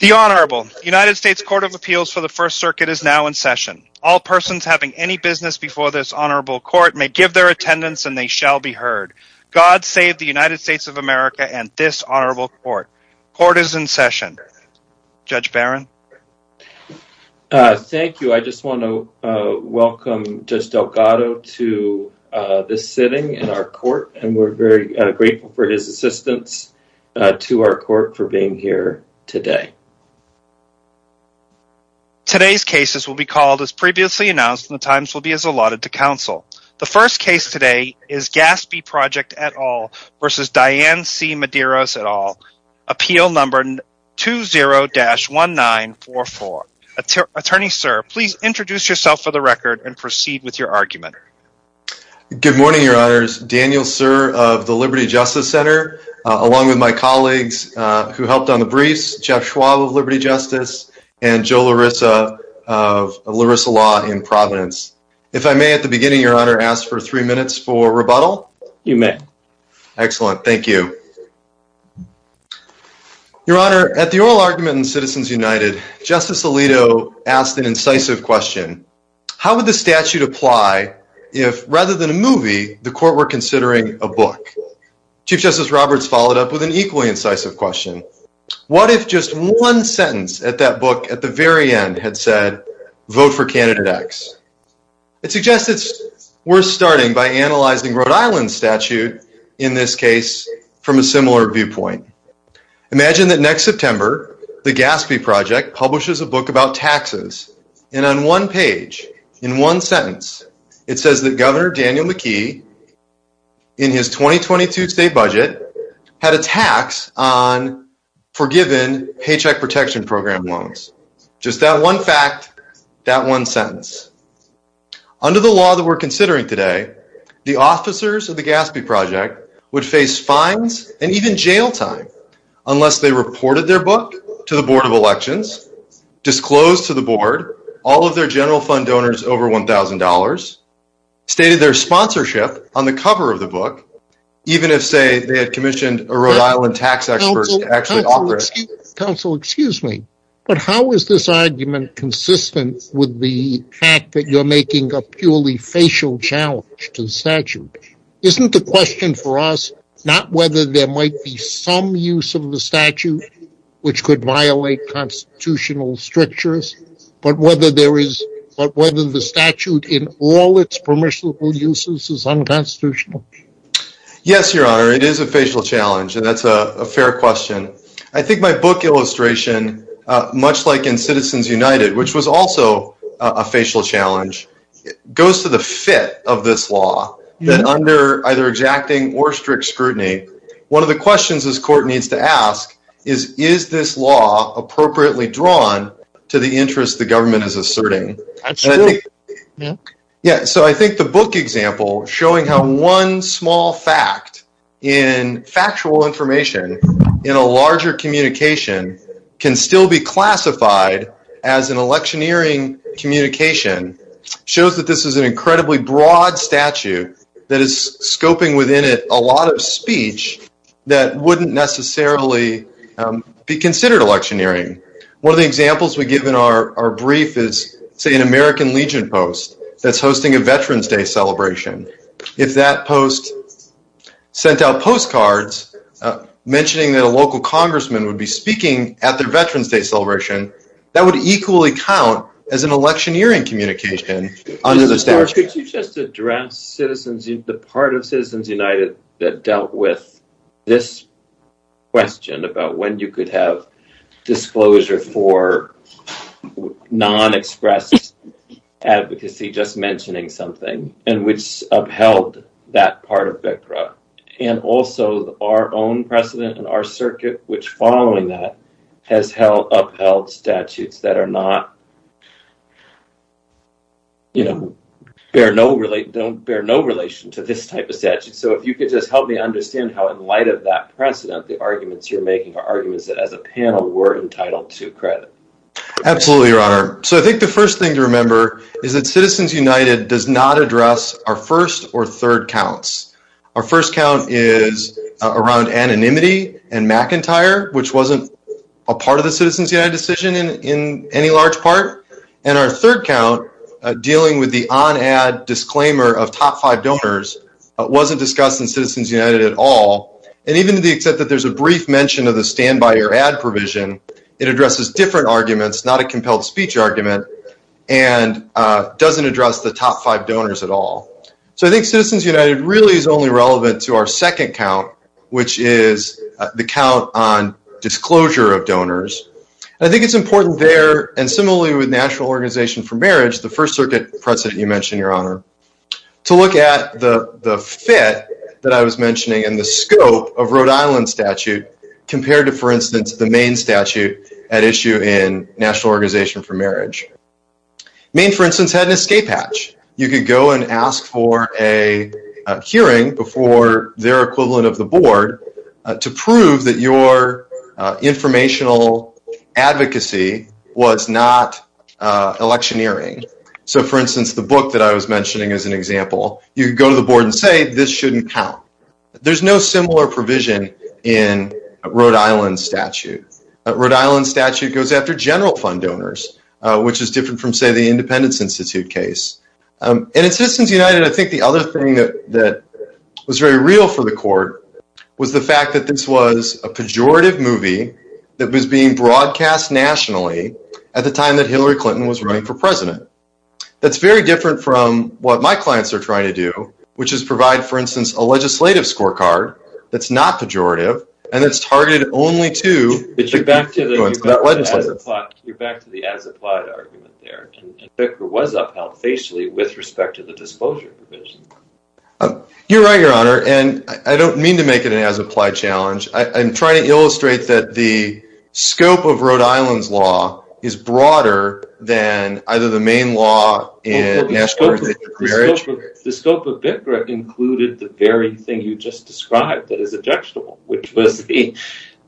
The Honorable United States Court of Appeals for the First Circuit is now in session. All persons having any business before this Honorable Court may give their attendance and they shall be heard. God save the United States of America and this Honorable Court. Court is in session. Judge Barron. Thank you. I just want to welcome Judge Delgado to this sitting in our court and we're very grateful for his assistance to our court for being here today. Today's cases will be called as previously announced and the times will be as allotted to counsel. The first case today is Gaspee Project et al. v. Diane C. Mederos et al. appeal number 20-1944. Attorney, sir, please introduce yourself for the record and proceed with your argument. Good morning, your honors. Daniel, sir, of the Liberty Justice Center along with my colleagues who helped on the briefs, Jeff Schwab of Liberty Justice and Joe Larissa of Larissa Law in Providence. If I may at the beginning, your honor, ask for three minutes for rebuttal. You may. Excellent. Thank you. Your honor, at the oral argument in Citizens United, Justice Alito asked an incisive question, how would the statute apply if rather than a movie the court were considering a book? Chief Justice Roberts followed up with an equally incisive question. What if just one sentence at that book at the very end had said, vote for candidate X? It suggests it's worth starting by analyzing Rhode Island's statute in this case from a similar viewpoint. Imagine that next September, the Gaspee Project publishes a book about taxes and on one page, in one sentence, it says that Governor Daniel McKee in his 2022 state budget had a tax on forgiven Paycheck Protection Program loans. Just that one fact, that one sentence. Under the law that we're considering today, the officers of the Gaspee Project would face fines and even jail time unless they reported their book to the Board of Elections, disclosed to the Board all of their general fund donors over $1,000, stated their sponsorship on the cover of the book, even if, say, they had commissioned a Rhode Island tax expert to actually offer it. Counsel, excuse me, but how is this argument consistent with the fact that you're making a purely facial challenge to the statute? Isn't the question for us not whether there might be some use of the statute which could violate constitutional strictures, but whether the statute in all its permissible uses is unconstitutional? Yes, Your Honor, it is a facial challenge and that's a fair question. I think my book illustration, much like in Citizens United, which was also a facial challenge, goes to the fit of this law that under either exacting or strict scrutiny, one of the questions this court needs to ask is, is this law appropriately drawn to the interest the government is asserting? So I think the book example showing how one small fact in factual information in a larger communication can still be classified as an electioneering communication shows that this is an incredibly broad statute that is scoping within it a lot of speech that wouldn't necessarily be considered electioneering. One of the examples we give in our brief is, say, an American Legion post that's hosting a Veterans Day celebration. If that post sent out postcards mentioning that a local congressman would be speaking at their Veterans Day celebration, that would equally count as an electioneering communication under the statute. Could you just address the part of Citizens United that dealt with this question about when you could have disclosure for non-expressed advocacy just mentioning something and which upheld that part of BCRA and also our own precedent and our circuit which following that upheld statutes that don't bear no relation to this type of statute? So if you could just help me understand how, in light of that precedent, the arguments you're making are arguments that, as a panel, we're entitled to credit. Absolutely, Your Honor. So I think the first thing to remember is that Citizens United does not address our first or third counts. Our first count is around anonymity and McIntyre, which wasn't a part of the Citizens United decision in any large part. And our third count, dealing with the on-ad disclaimer of top five donors, wasn't discussed in Citizens United at all. And even to the extent that there's a brief mention of the stand-by-your-ad provision, it addresses different arguments, not a compelled speech argument, and doesn't address the top five donors at all. So I think Citizens United really is only relevant to our second count, which is the count on disclosure of donors. I think it's important there, and similarly with National Organization for Marriage, the First Circuit precedent you mentioned, Your Honor, to look at the fit that I was mentioning and the scope of Rhode Island statute compared to, for instance, the Maine statute at issue in National Organization for Marriage. Maine, for instance, had an escape hatch. You could go and ask for a hearing before their equivalent of the board to prove that your informational advocacy was not electioneering. So, for instance, the book that I was mentioning as an example, you could go to the board and say this shouldn't count. There's no similar provision in Rhode Island statute. Rhode Island statute goes after general fund donors, which is different from, say, the Independence Institute case. And in Citizens United, I think the other thing that was very real for the court was the fact that this was a pejorative movie that was being broadcast nationally at the time that Hillary Clinton was running for president. That's very different from what my clients are trying to do, which is provide, for instance, a legislative scorecard that's not pejorative and that's not a legislative scorecard. You're back to the as-applied argument there. And Bickra was upheld facially with respect to the disclosure provision. You're right, Your Honor, and I don't mean to make it an as-applied challenge. I'm trying to illustrate that the scope of Rhode Island's law is broader than either the Maine law in National Organization for Marriage. The scope of Bickra included the very thing you just described that is objectionable, which was the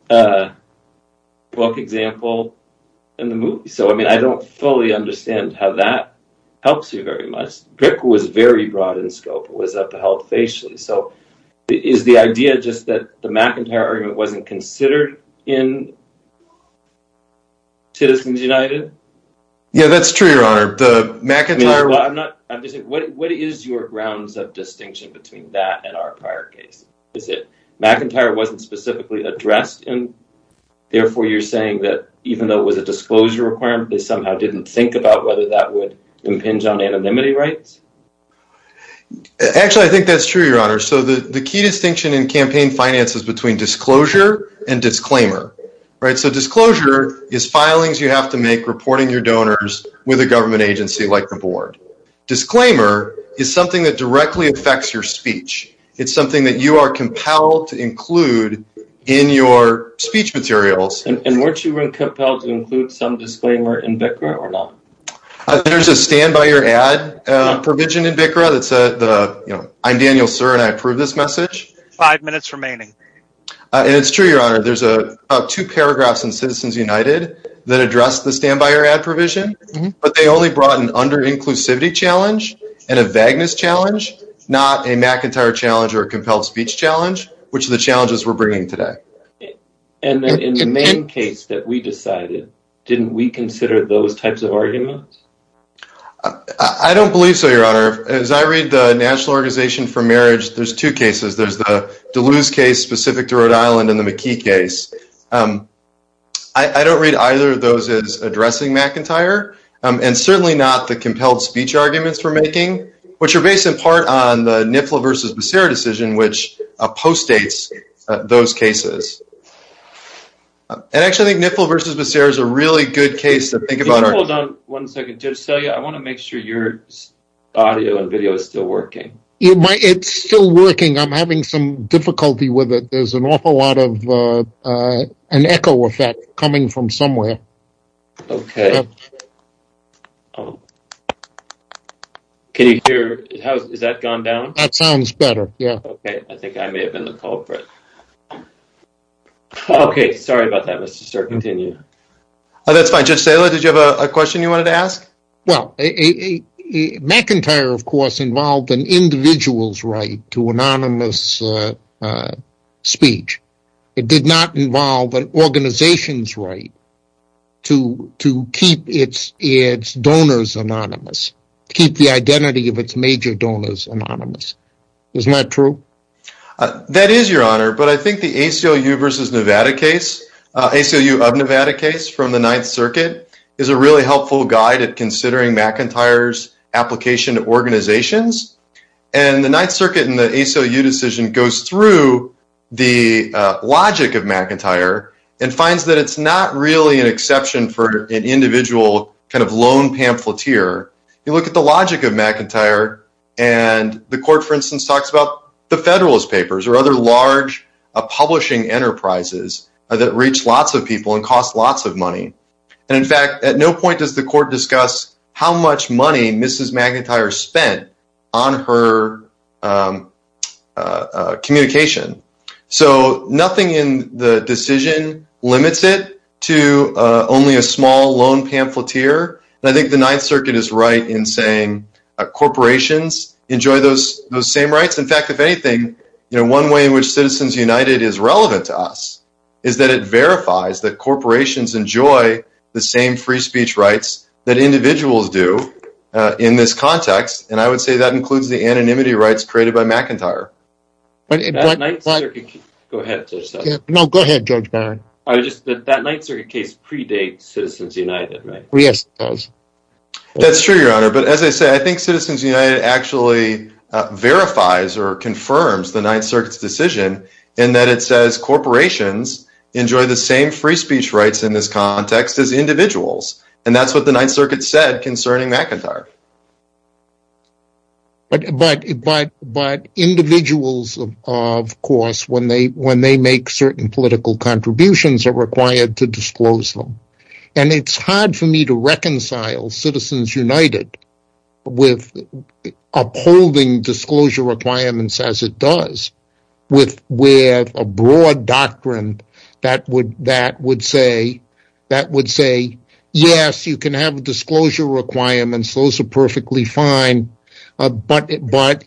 book example in the movie. So, I mean, I don't fully understand how that helps you very much. Bickra was very broad in scope. It was upheld facially. So, is the idea just that the McIntyre argument wasn't considered in Citizens United? Yeah, that's true, Your Honor. I'm just saying, what is your grounds of distinction between that and our prior case? Is it McIntyre wasn't specifically addressed and, therefore, you're saying that even though it was a disclosure requirement, they somehow didn't think about whether that would impinge on anonymity rights? Actually, I think that's true, Your Honor. So, the key distinction in campaign finance is between disclosure and disclaimer. So, disclosure is filings you have to make reporting your donors with a government agency like the board. Disclaimer is something that directly affects your speech. It's something that you are compelled to include in your speech materials. And weren't you really compelled to include some disclaimer in Bickra or not? There's a stand by your ad provision in Bickra that says, you know, I'm Daniel, sir, and I approve this message. Five minutes remaining. And it's true, Your Honor. There's two paragraphs in Citizens United that address the stand by your ad provision, but they only brought an under-inclusivity challenge and a vagueness challenge, not a McIntyre challenge or a compelled speech challenge, which are the challenges we're bringing today. And in the main case that we decided, didn't we consider those types of arguments? I don't believe so, Your Honor. As I read the National Organization for Marriage, there's two cases. There's the Duluth case specific to Rhode Island. I don't read either of those as addressing McIntyre and certainly not the compelled speech arguments we're making, which are based in part on the Niffle versus Becerra decision, which postdates those cases. And actually, I think Niffle versus Becerra is a really good case to think about. Hold on one second. Just tell you, I want to make sure your audio and video is still working. It's still working. I'm having some difficulty with it. There's an awful lot of an echo effect coming from somewhere. Okay. Can you hear? Has that gone down? That sounds better. Yeah. Okay. I think I may have been the culprit. Okay. Sorry about that, Mr. Stern. Continue. That's fine. Judge Saylor, did you have a question you wanted to ask? Well, McIntyre, of course, involved an individual's right to anonymous speech. It did not involve an organization's right to keep its donors anonymous, keep the identity of its major donors anonymous. Isn't that true? That is your honor, but I think the ACLU versus Nevada case, ACLU of Nevada case from the Ninth Circuit, is considered McIntyre's application to organizations. And the Ninth Circuit and the ACLU decision goes through the logic of McIntyre and finds that it's not really an exception for an individual kind of lone pamphleteer. You look at the logic of McIntyre, and the court, for instance, talks about the Federalist Papers or other large publishing enterprises that reach lots of people and cost lots of money. And in fact, at no point does the court discuss how much money Mrs. McIntyre spent on her communication. So nothing in the decision limits it to only a small lone pamphleteer. And I think the Ninth Circuit is right in saying corporations enjoy those same rights. In fact, one way in which Citizens United is relevant to us is that it verifies that corporations enjoy the same free speech rights that individuals do in this context. And I would say that includes the anonymity rights created by McIntyre. That Ninth Circuit case predates Citizens United, right? Yes, it does. That's true, your honor. But as I said, I think Citizens United actually verifies or confirms the Ninth Circuit's decision in that it says corporations enjoy the same free speech rights in this context as individuals. And that's what the Ninth Circuit said concerning McIntyre. But individuals, of course, when they make certain political contributions, are required to disclose them. And it's hard for me to reconcile Citizens United with upholding disclosure requirements as it does with a broad doctrine that would say, yes, you can have disclosure requirements. Those are perfectly fine. But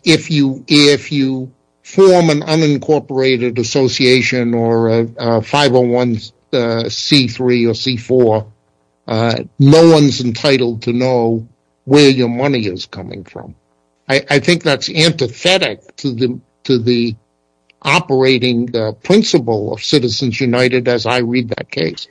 if you form an is coming from. I think that's antithetic to the operating principle of Citizens United, as I read that case.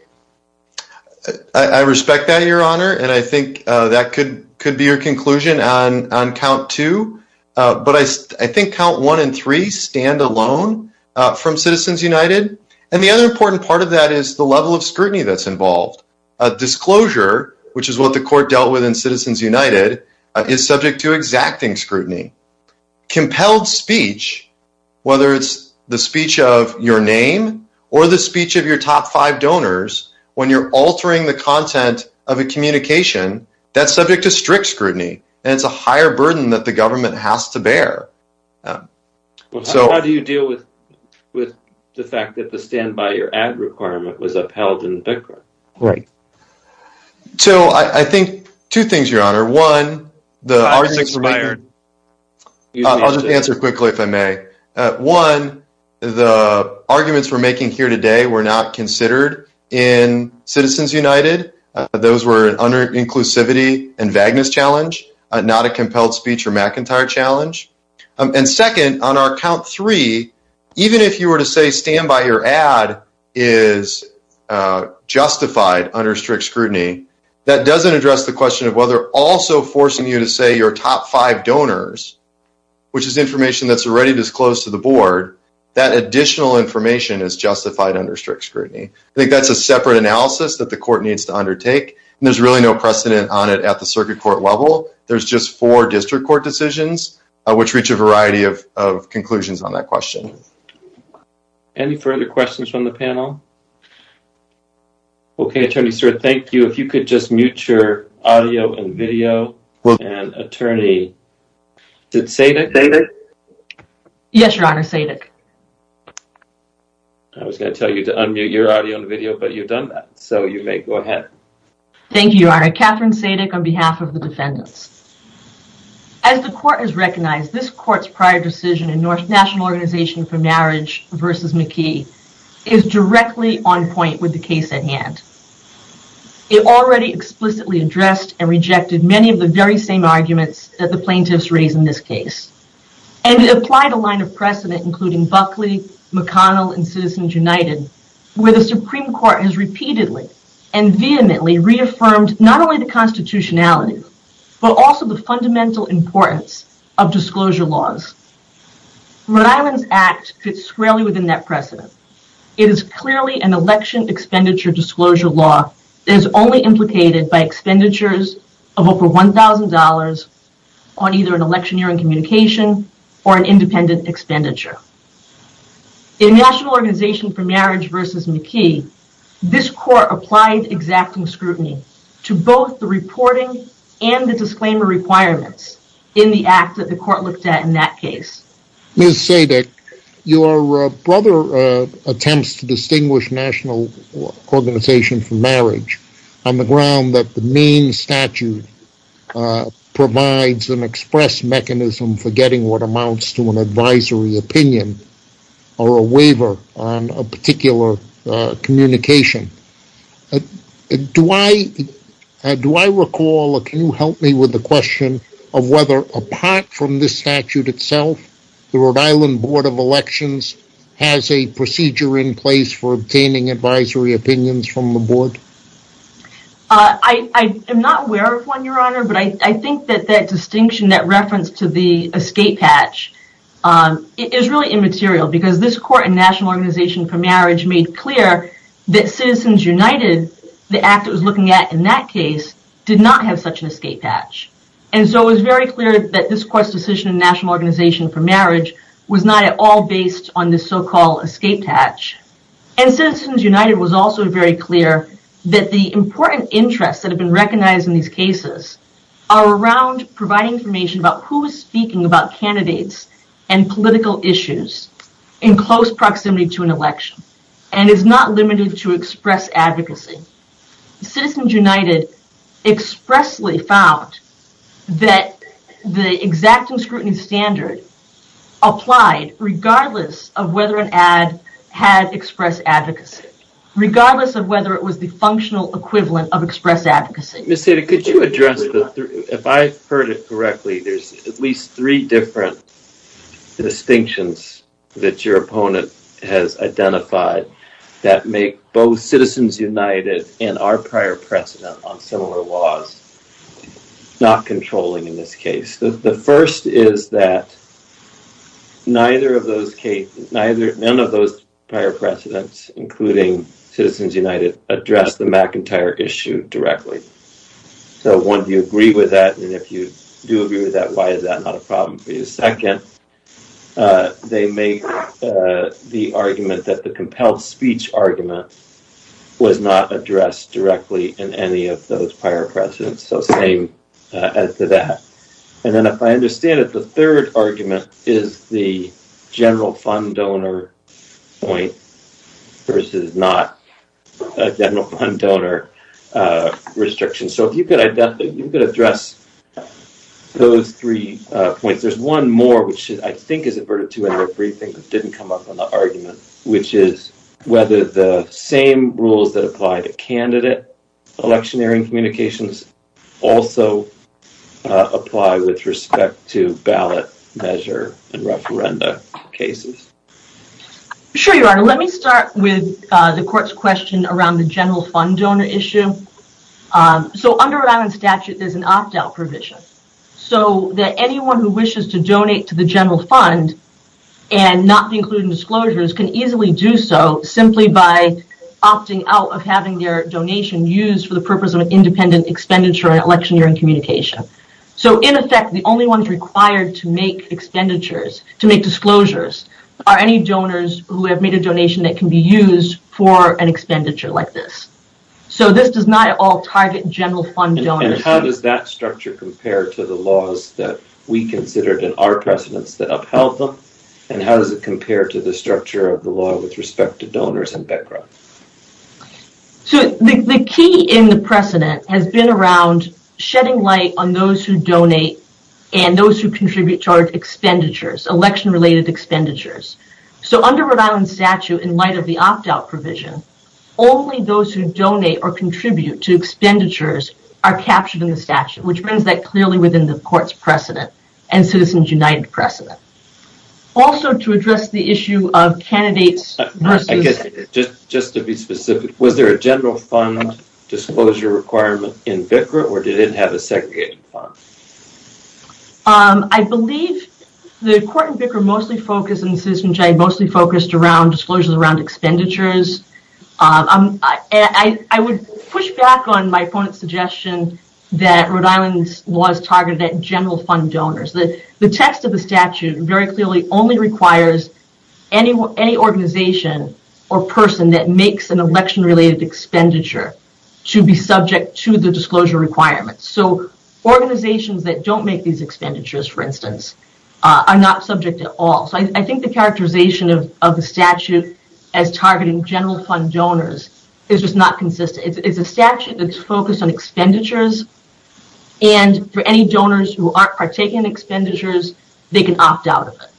I respect that, your honor. And I think that could be your conclusion on count two. But I think count one and three stand alone from Citizens United. And the other important part of that is the level of scrutiny that's involved. Disclosure, which is what the is subject to exacting scrutiny. Compelled speech, whether it's the speech of your name or the speech of your top five donors, when you're altering the content of a communication, that's subject to strict scrutiny. And it's a higher burden that the government has to bear. Well, how do you deal with the fact that the stand by your ad requirement was upheld in the argument? I'll just answer quickly, if I may. One, the arguments we're making here today were not considered in Citizens United. Those were under inclusivity and vagueness challenge, not a compelled speech or McIntyre challenge. And second, on our count three, even if you were to say stand by your ad is justified under strict scrutiny, that doesn't address the question of also forcing you to say your top five donors, which is information that's already disclosed to the board, that additional information is justified under strict scrutiny. I think that's a separate analysis that the court needs to undertake. And there's really no precedent on it at the circuit court level. There's just four district court decisions, which reach a variety of conclusions on that question. Any further questions from the panel? Okay, attorney, sir. Thank you. If you could just mute your audio and video. And attorney, did Sadick? Yes, your honor, Sadick. I was going to tell you to unmute your audio and video, but you've done that, so you may go ahead. Thank you, your honor. Catherine Sadick on behalf of the defendants. As the court has recognized, this court's prior decision in North National Organization for the case at hand. It already explicitly addressed and rejected many of the very same arguments that the plaintiffs raised in this case. And it applied a line of precedent, including Buckley, McConnell, and Citizens United, where the Supreme Court has repeatedly and vehemently reaffirmed, not only the constitutionality, but also the fundamental importance of disclosure laws. Rhode Island's act fits squarely within that precedent. It is clearly an election expenditure disclosure law that is only implicated by expenditures of over $1,000 on either an electioneering communication or an independent expenditure. In National Organization for Marriage v. McKee, this court applied exacting scrutiny to both the Ms. Sadick, your brother attempts to distinguish National Organization for Marriage on the ground that the main statute provides an express mechanism for getting what amounts to an advisory opinion or a waiver on a particular communication. Do I recall, or can you help me with the question of whether apart from the statute itself, the Rhode Island Board of Elections has a procedure in place for obtaining advisory opinions from the board? I am not aware of one, your honor, but I think that that distinction, that reference to the escape hatch is really immaterial because this court in National Organization for Marriage made clear that Citizens United, the act it was clear that this court's decision in National Organization for Marriage was not at all based on the so-called escape hatch. Citizens United was also very clear that the important interests that have been recognized in these cases are around providing information about who is speaking about candidates and political issues in close proximity to an election and is not limited to advocacy. Citizens United expressly found that the exacting scrutiny standard applied regardless of whether an ad had express advocacy, regardless of whether it was the functional equivalent of express advocacy. Ms. Sadick, could you address, if I've heard it correctly, there's at least three different distinctions that your opponent has identified that make both Citizens United and our prior precedent on similar laws not controlling in this case. The first is that neither of those cases, none of those prior precedents, including Citizens United, address the McIntyre issue directly. So, one, do you agree with that? And if you do agree with that, why is that not a problem for you? Second, they make the argument that the compelled speech argument was not addressed directly in any of those prior precedents. So, same as to that. And then, if I understand it, the third argument is the general fund donor point versus not a general fund donor restriction. So, if you could address those three points. There's one more, which I think is averted to everything that didn't come up on the argument, which is whether the same rules that apply to candidate electioneering communications also apply with respect to ballot measure and referenda cases. Sure, Your Honor. Let me start with the court's question around the general fund donor issue. So, under Rhode Island statute, there's an opt-out provision so that anyone who wishes to donate to the general fund and not be included in disclosures can easily do so simply by opting out of having their donation used for the purpose of an independent expenditure on electioneering communication. So, in effect, the only ones required to make expenditures, to make disclosures, are any donors who have made a donation that can be used for an expenditure like this. So, this does not at all target general fund donors. And how does that structure compare to the laws that we considered in our precedents that upheld them? And how does it compare to the structure of the law with respect to donors and background? So, the key in the precedent has been around shedding light on those who donate and those who contribute to our expenditures, election-related expenditures. So, under Rhode Island statute, in light of the opt-out provision, only those who donate or contribute to expenditures are captured in the statute, which brings that clearly within the court's precedent and Citizens United precedent. Also, to address the issue of candidates versus... I guess, just to be specific, was there a general fund disclosure requirement in BCRA or did it have a segregated fund? I believe the court in BCRA mostly focused and Citizens United mostly focused around disclosures around expenditures. I would push back on my opponent's suggestion that Rhode Island's law is targeted at general fund donors. The text of the statute very clearly only requires any organization or person that makes an election-related expenditure to be subject to the disclosure requirements. So, organizations that don't make these expenditures, for instance, are not subject at all. So, I think the characterization of the statute as targeting general fund donors is just not consistent. It's a statute that's focused on expenditures and for any donors who aren't partaking in expenditures, they can opt out of it.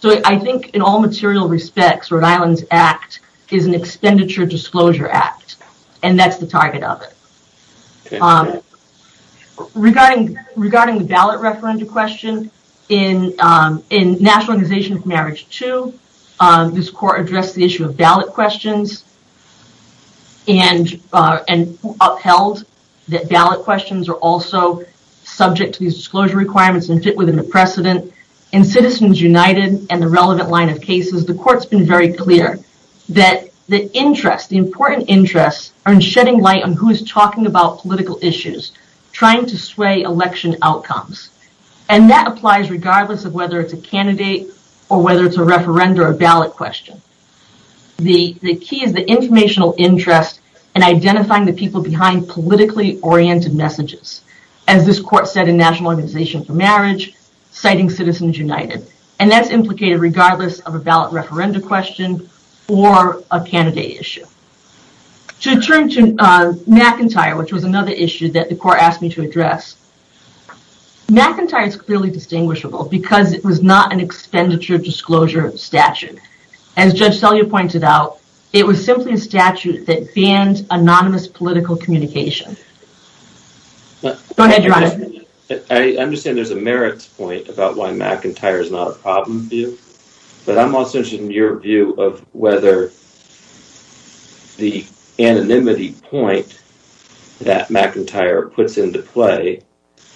So, I think in all material respects, Rhode Island's act is an expenditure disclosure act and that's the target of it. Regarding the ballot referendum question, in National Organization for Marriage 2, this court addressed the issue of ballot questions and upheld that ballot questions are also subject to these disclosure requirements and fit within the precedent. In Citizens United and the relevant line of cases, the court's been very clear that the interest, the important interests, are in shedding light on who is talking about political issues, trying to sway election outcomes, and that applies regardless of whether it's a candidate or whether it's a referenda or ballot question. The key is the informational interest and identifying the people behind politically oriented messages. As this court said in National Organization for Marriage, citing Citizens United, and that's implicated regardless of a ballot referenda question or a candidate issue. To turn to McIntyre, which was another issue that the court asked me to address, McIntyre is clearly distinguishable because it was not an expenditure disclosure statute. As Judge Sellier pointed out, it was simply a statute that banned anonymous political communication. Go ahead, Your Honor. I understand there's a merits point about why whether the anonymity point that McIntyre puts into play,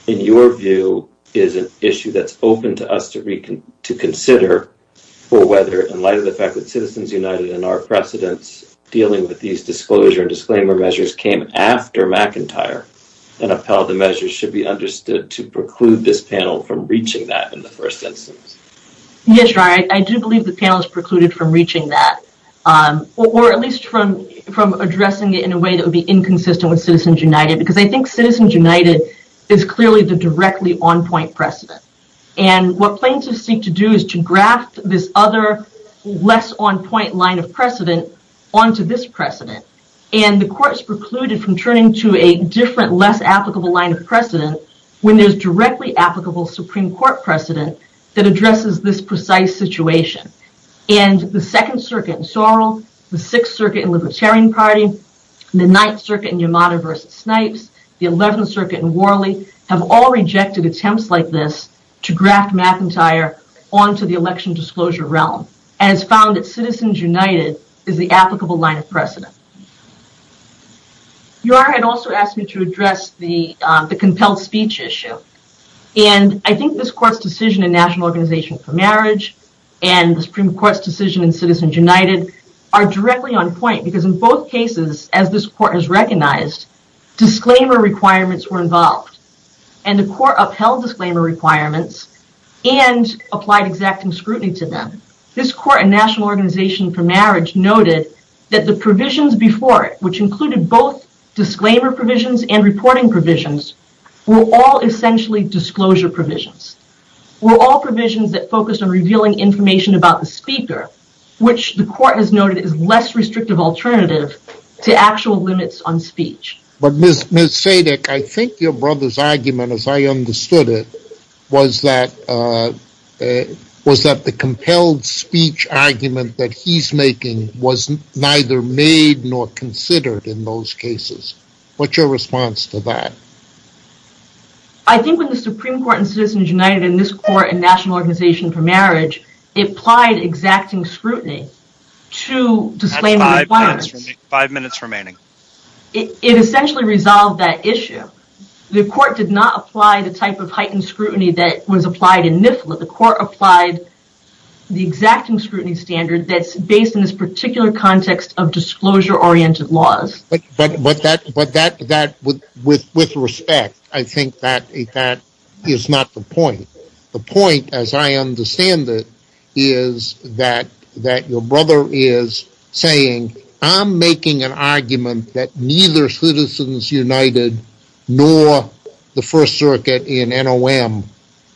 in your view, is an issue that's open to us to reconsider to consider for whether in light of the fact that Citizens United and our precedents dealing with these disclosure and disclaimer measures came after McIntyre and upheld the measures should be understood to preclude this panel from reaching that in the first instance. Yes, Your Honor. I do believe the panel is precluded from reaching that, or at least from addressing it in a way that would be inconsistent with Citizens United, because I think Citizens United is clearly the directly on-point precedent. What plaintiffs seek to do is to graft this other less on-point line of precedent onto this precedent. The court's precluded from turning to a different, less applicable line of precedent when there's directly applicable Supreme Court precedent that addresses this precise situation. The Second Circuit in Sorrell, the Sixth Circuit in Libertarian Party, the Ninth Circuit in Yamada v. Snipes, the Eleventh Circuit in Worley have all rejected attempts like this to graft McIntyre onto the election disclosure realm, as found at Citizens United is the applicable line of precedent. Your Honor, I'd also ask you to address the compelled speech issue. I think this court's decision in National Organization for Marriage, and the Supreme Court's decision in Citizens United are directly on-point, because in both cases, as this court has recognized, disclaimer requirements were involved. The court upheld disclaimer requirements and applied exacting scrutiny to them. This court in National Organization for Marriage noted that the provisions before it, which included both disclaimer provisions and reporting provisions, were all essentially disclosure provisions, were all provisions that focused on revealing information about the speaker, which the court has noted is less restrictive alternative to actual limits on speech. But Ms. Sadick, I think your brother's argument, as I understood it, was that the compelled speech argument that he's making was neither made nor considered in those cases. What's your response to that? I think when the Supreme Court in Citizens United and this court in National Organization for Marriage applied exacting scrutiny to disclaimer requirements, five minutes remaining, it essentially resolved that issue. The court did not apply the type of heightened scrutiny that was applied in NIFLA. The court applied the exacting scrutiny standard that's based in this particular context of disclosure-oriented laws. But that, with respect, I think that is not the point. The point, as I understand it, is that your brother is saying, I'm making an argument that neither Citizens United nor the First Circuit in NOM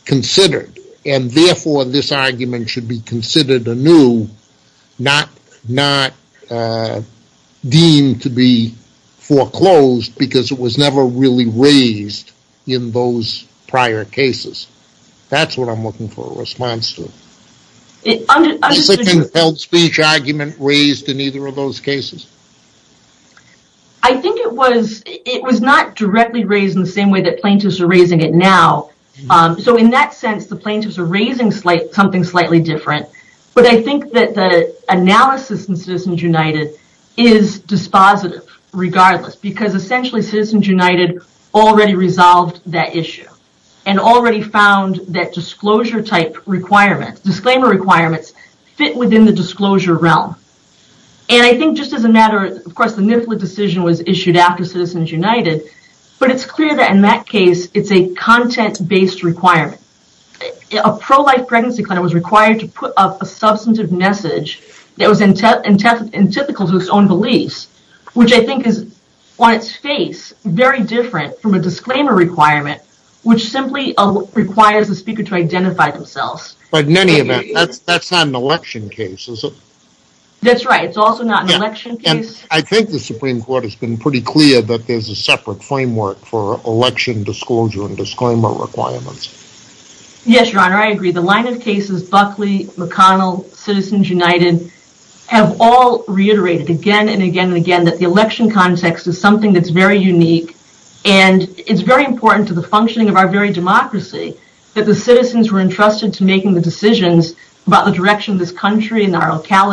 considered, and therefore this argument should be considered anew, not deemed to be foreclosed because it was never really raised in those prior cases. That's what I'm looking for a response to. Is the compelled speech argument raised in either of those cases? I think it was not directly raised in the same way that plaintiffs are raising it now. So in that sense, the plaintiffs are raising something slightly different. But I think that the analysis in Citizens United is dispositive regardless because essentially Citizens United already resolved that issue and already found that disclosure-type requirements, disclaimer requirements, fit within the disclosure realm. And I think just as a matter of fact, the NIFLA decision was issued after Citizens United, but it's clear that in that case it's a content-based requirement. A pro-life pregnancy claimant was required to put up a substantive message that was in typical to his own beliefs, which I think is on its face very different from a disclaimer requirement, which simply requires the speaker to identify themselves. But in any event, that's not an election case, is it? That's right. It's also not an election case. I think the Supreme Court has been pretty clear that there's a separate framework for election disclosure and disclaimer requirements. Yes, Your Honor, I agree. The line of cases, Buckley, McConnell, Citizens United, have all reiterated again and again and again that the election context is something that's very unique and it's very important to the functioning of our very democracy that the citizens were entrusted to making the decisions about the direction of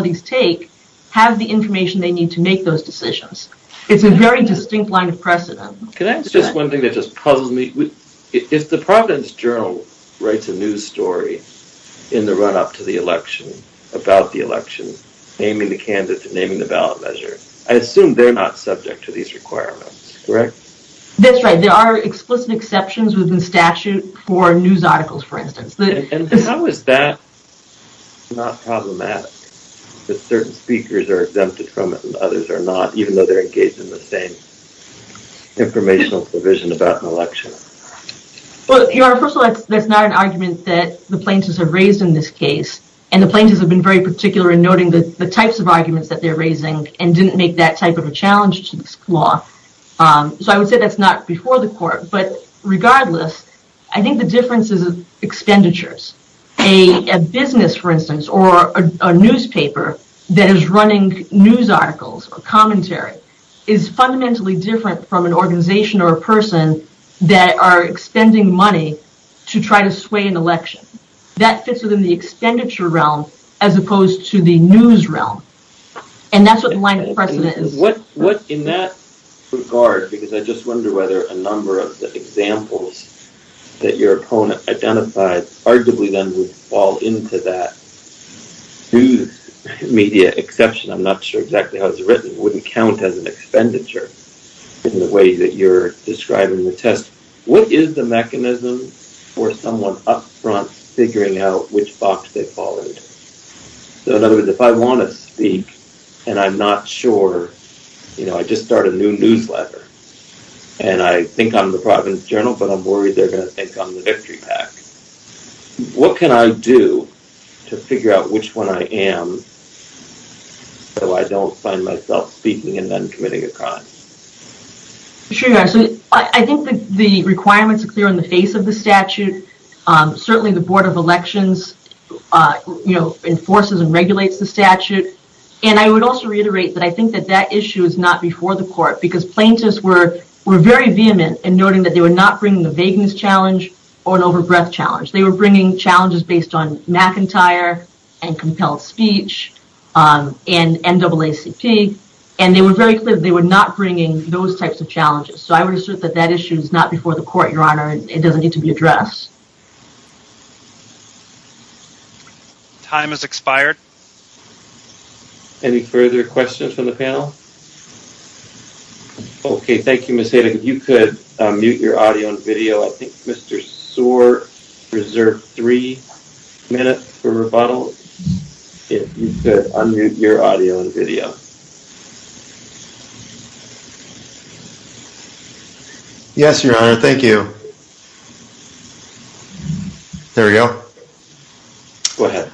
this take, have the information they need to make those decisions. It's a very distinct line of precedent. Can I ask just one thing that just puzzles me? If the Providence Journal writes a news story in the run-up to the election about the election, naming the candidate, naming the ballot measure, I assume they're not subject to these requirements, correct? That's right. There are explicit exceptions within statute for news articles, for instance. How is that not problematic? That certain speakers are exempted from it and others are not, even though they're engaged in the same informational provision about an election? Well, Your Honor, first of all, that's not an argument that the plaintiffs have raised in this case and the plaintiffs have been very particular in noting the types of arguments that they're raising and didn't make that type of a challenge to this law. So I would say that's not before the court, but regardless, I think the difference is expenditures. A business, for instance, or a newspaper that is running news articles or commentary is fundamentally different from an organization or a person that are expending money to try to sway an election. That fits within the expenditure realm as opposed to the news realm. And that's what the line of precedent is. In that regard, because I just wonder whether a number of the examples that your opponent identified arguably then would fall into that news media exception, I'm not sure exactly how it's written, wouldn't count as an expenditure in the way that you're describing the test. What is the mechanism for someone up front figuring out which box they followed? So in other words, if I want to speak and I'm not sure, you know, I just start a new newsletter and I think I'm the province journal, but I'm worried they're going to think I'm the victory pack. What can I do to figure out which one I am so I don't find myself speaking and then committing a crime? Sure. So I think the requirements are clear in the face of the statute. Certainly the board of elections, you know, enforces and regulates the statute. And I would also reiterate that I think that that issue is not before the court because plaintiffs were very vehement in noting that they were not bringing the vagueness challenge or an overbreath challenge. They were bringing challenges based on McIntyre and compelled speech and NAACP and they were very clear they were not bringing those types of challenges. So I would assert that that issue is not before the court, it doesn't need to be addressed. Time has expired. Any further questions from the panel? Okay, thank you, Ms. Hayden. If you could mute your audio and video. I think Mr. Soar reserved three minutes for rebuttal. If you could unmute your audio and video. Yes, Your Honor, thank you. There we go. Go ahead.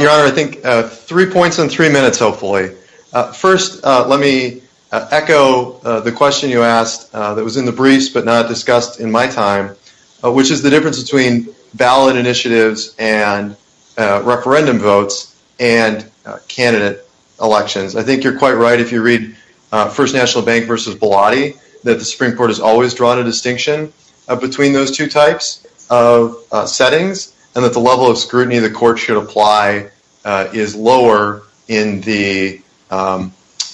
Your Honor, I think three points in three minutes, hopefully. First, let me echo the question you asked that was in the briefs but not discussed in my time, which is the difference between ballot initiatives and referendum votes and candidate elections. I think you're quite right if you read First National Bank versus Biladi, that the Supreme Court has always drawn a distinction between those two types of settings and that the level of scrutiny the court should apply is lower in the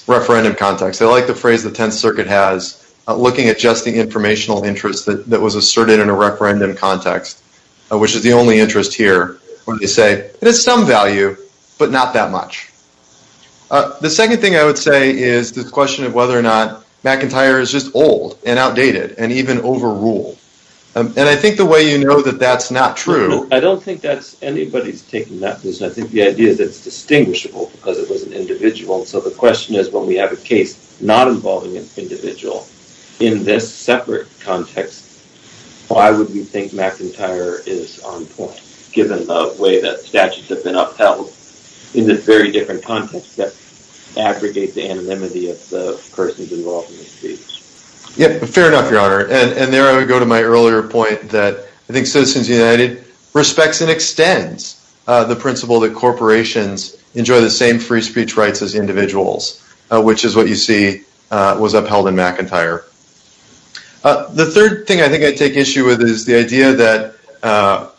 referendum context. I like the phrase the Tenth Circuit has, looking at just the informational interest that was asserted in a referendum context, which is the only interest here, where they say it has some value, but not that much. The second thing I would say is the question of whether or not McIntyre is just old and outdated and even overruled. And I think the way you know that that's not true... I don't think anybody's taken that. I think the idea is that it's distinguishable because it was an individual. So the question is, when we have a case not involving an individual in this separate context, why would we think McIntyre is on point, given the way that statutes have been upheld in this very different context? Aggregate the anonymity of the persons involved in the speech. Yeah, fair enough, Your Honor. And there I would go to my earlier point that I think Citizens United respects and extends the principle that corporations enjoy the same free speech rights as individuals, which is what you see was upheld in McIntyre. The third thing I think I take issue with is the idea that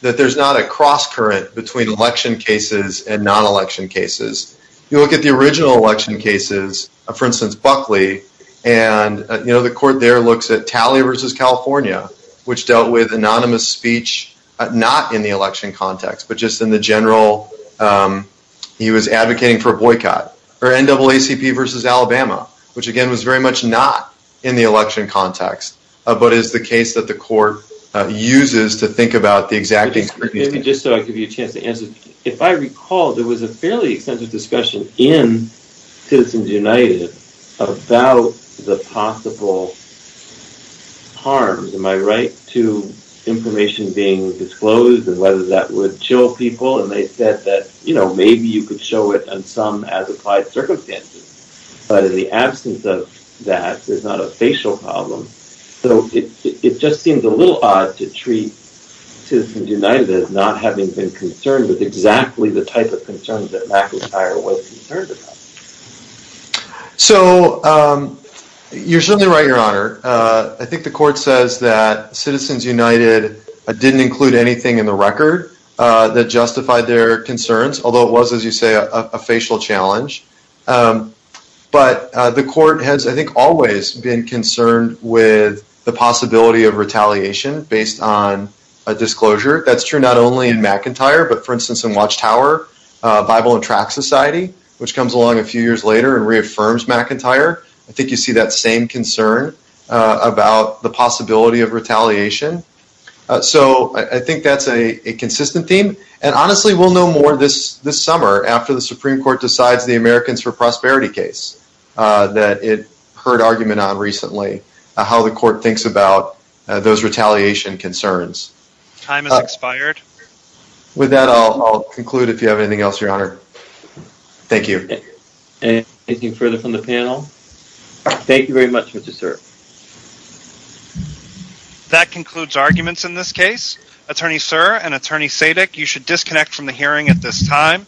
there's not a cross current between election cases and non-election cases. You look at the original election cases, for instance, Buckley, and the court there looks at Talley versus California, which dealt with anonymous speech not in the election context, but just in the general... He was advocating for a boycott. Or NAACP versus Alabama, which again was very much not in the election context, but is the case that the court uses to think about the exact... Just so I give you a chance to answer, if I recall, there was a fairly extensive discussion in Citizens United about the possible harms. Am I right to information being disclosed and whether that would chill people? And they said that maybe you could show it on some as applied circumstances, but in the absence of that, there's not a facial problem. So it just seems a little odd to treat Citizens United as not having been concerned with exactly the type of concerns that McIntyre was concerned about. So you're certainly right, your honor. I think the court says that Citizens United didn't include anything in the record that justified their concerns, although it was, as you say, a facial challenge. But the court has, I think, always been concerned with the possibility of retaliation based on a disclosure. That's true not only in McIntyre, but for instance, in Watchtower, Bible and Track Society, which comes along a few years later and reaffirms McIntyre. I think you see that same concern about the possibility of retaliation. So I think that's a consistent theme. And honestly, we'll know more this summer after the Supreme Court decides the Americans for Prosperity case that it heard argument on recently, how the court thinks about those retaliation concerns. Time has expired. With that, I'll conclude if you have anything else, your honor. Thank you. Anything further from the panel? Thank you very much, Mr. Sir. That concludes arguments in this case. Attorney Sir and Attorney Sadick, you should disconnect from the hearing at this time.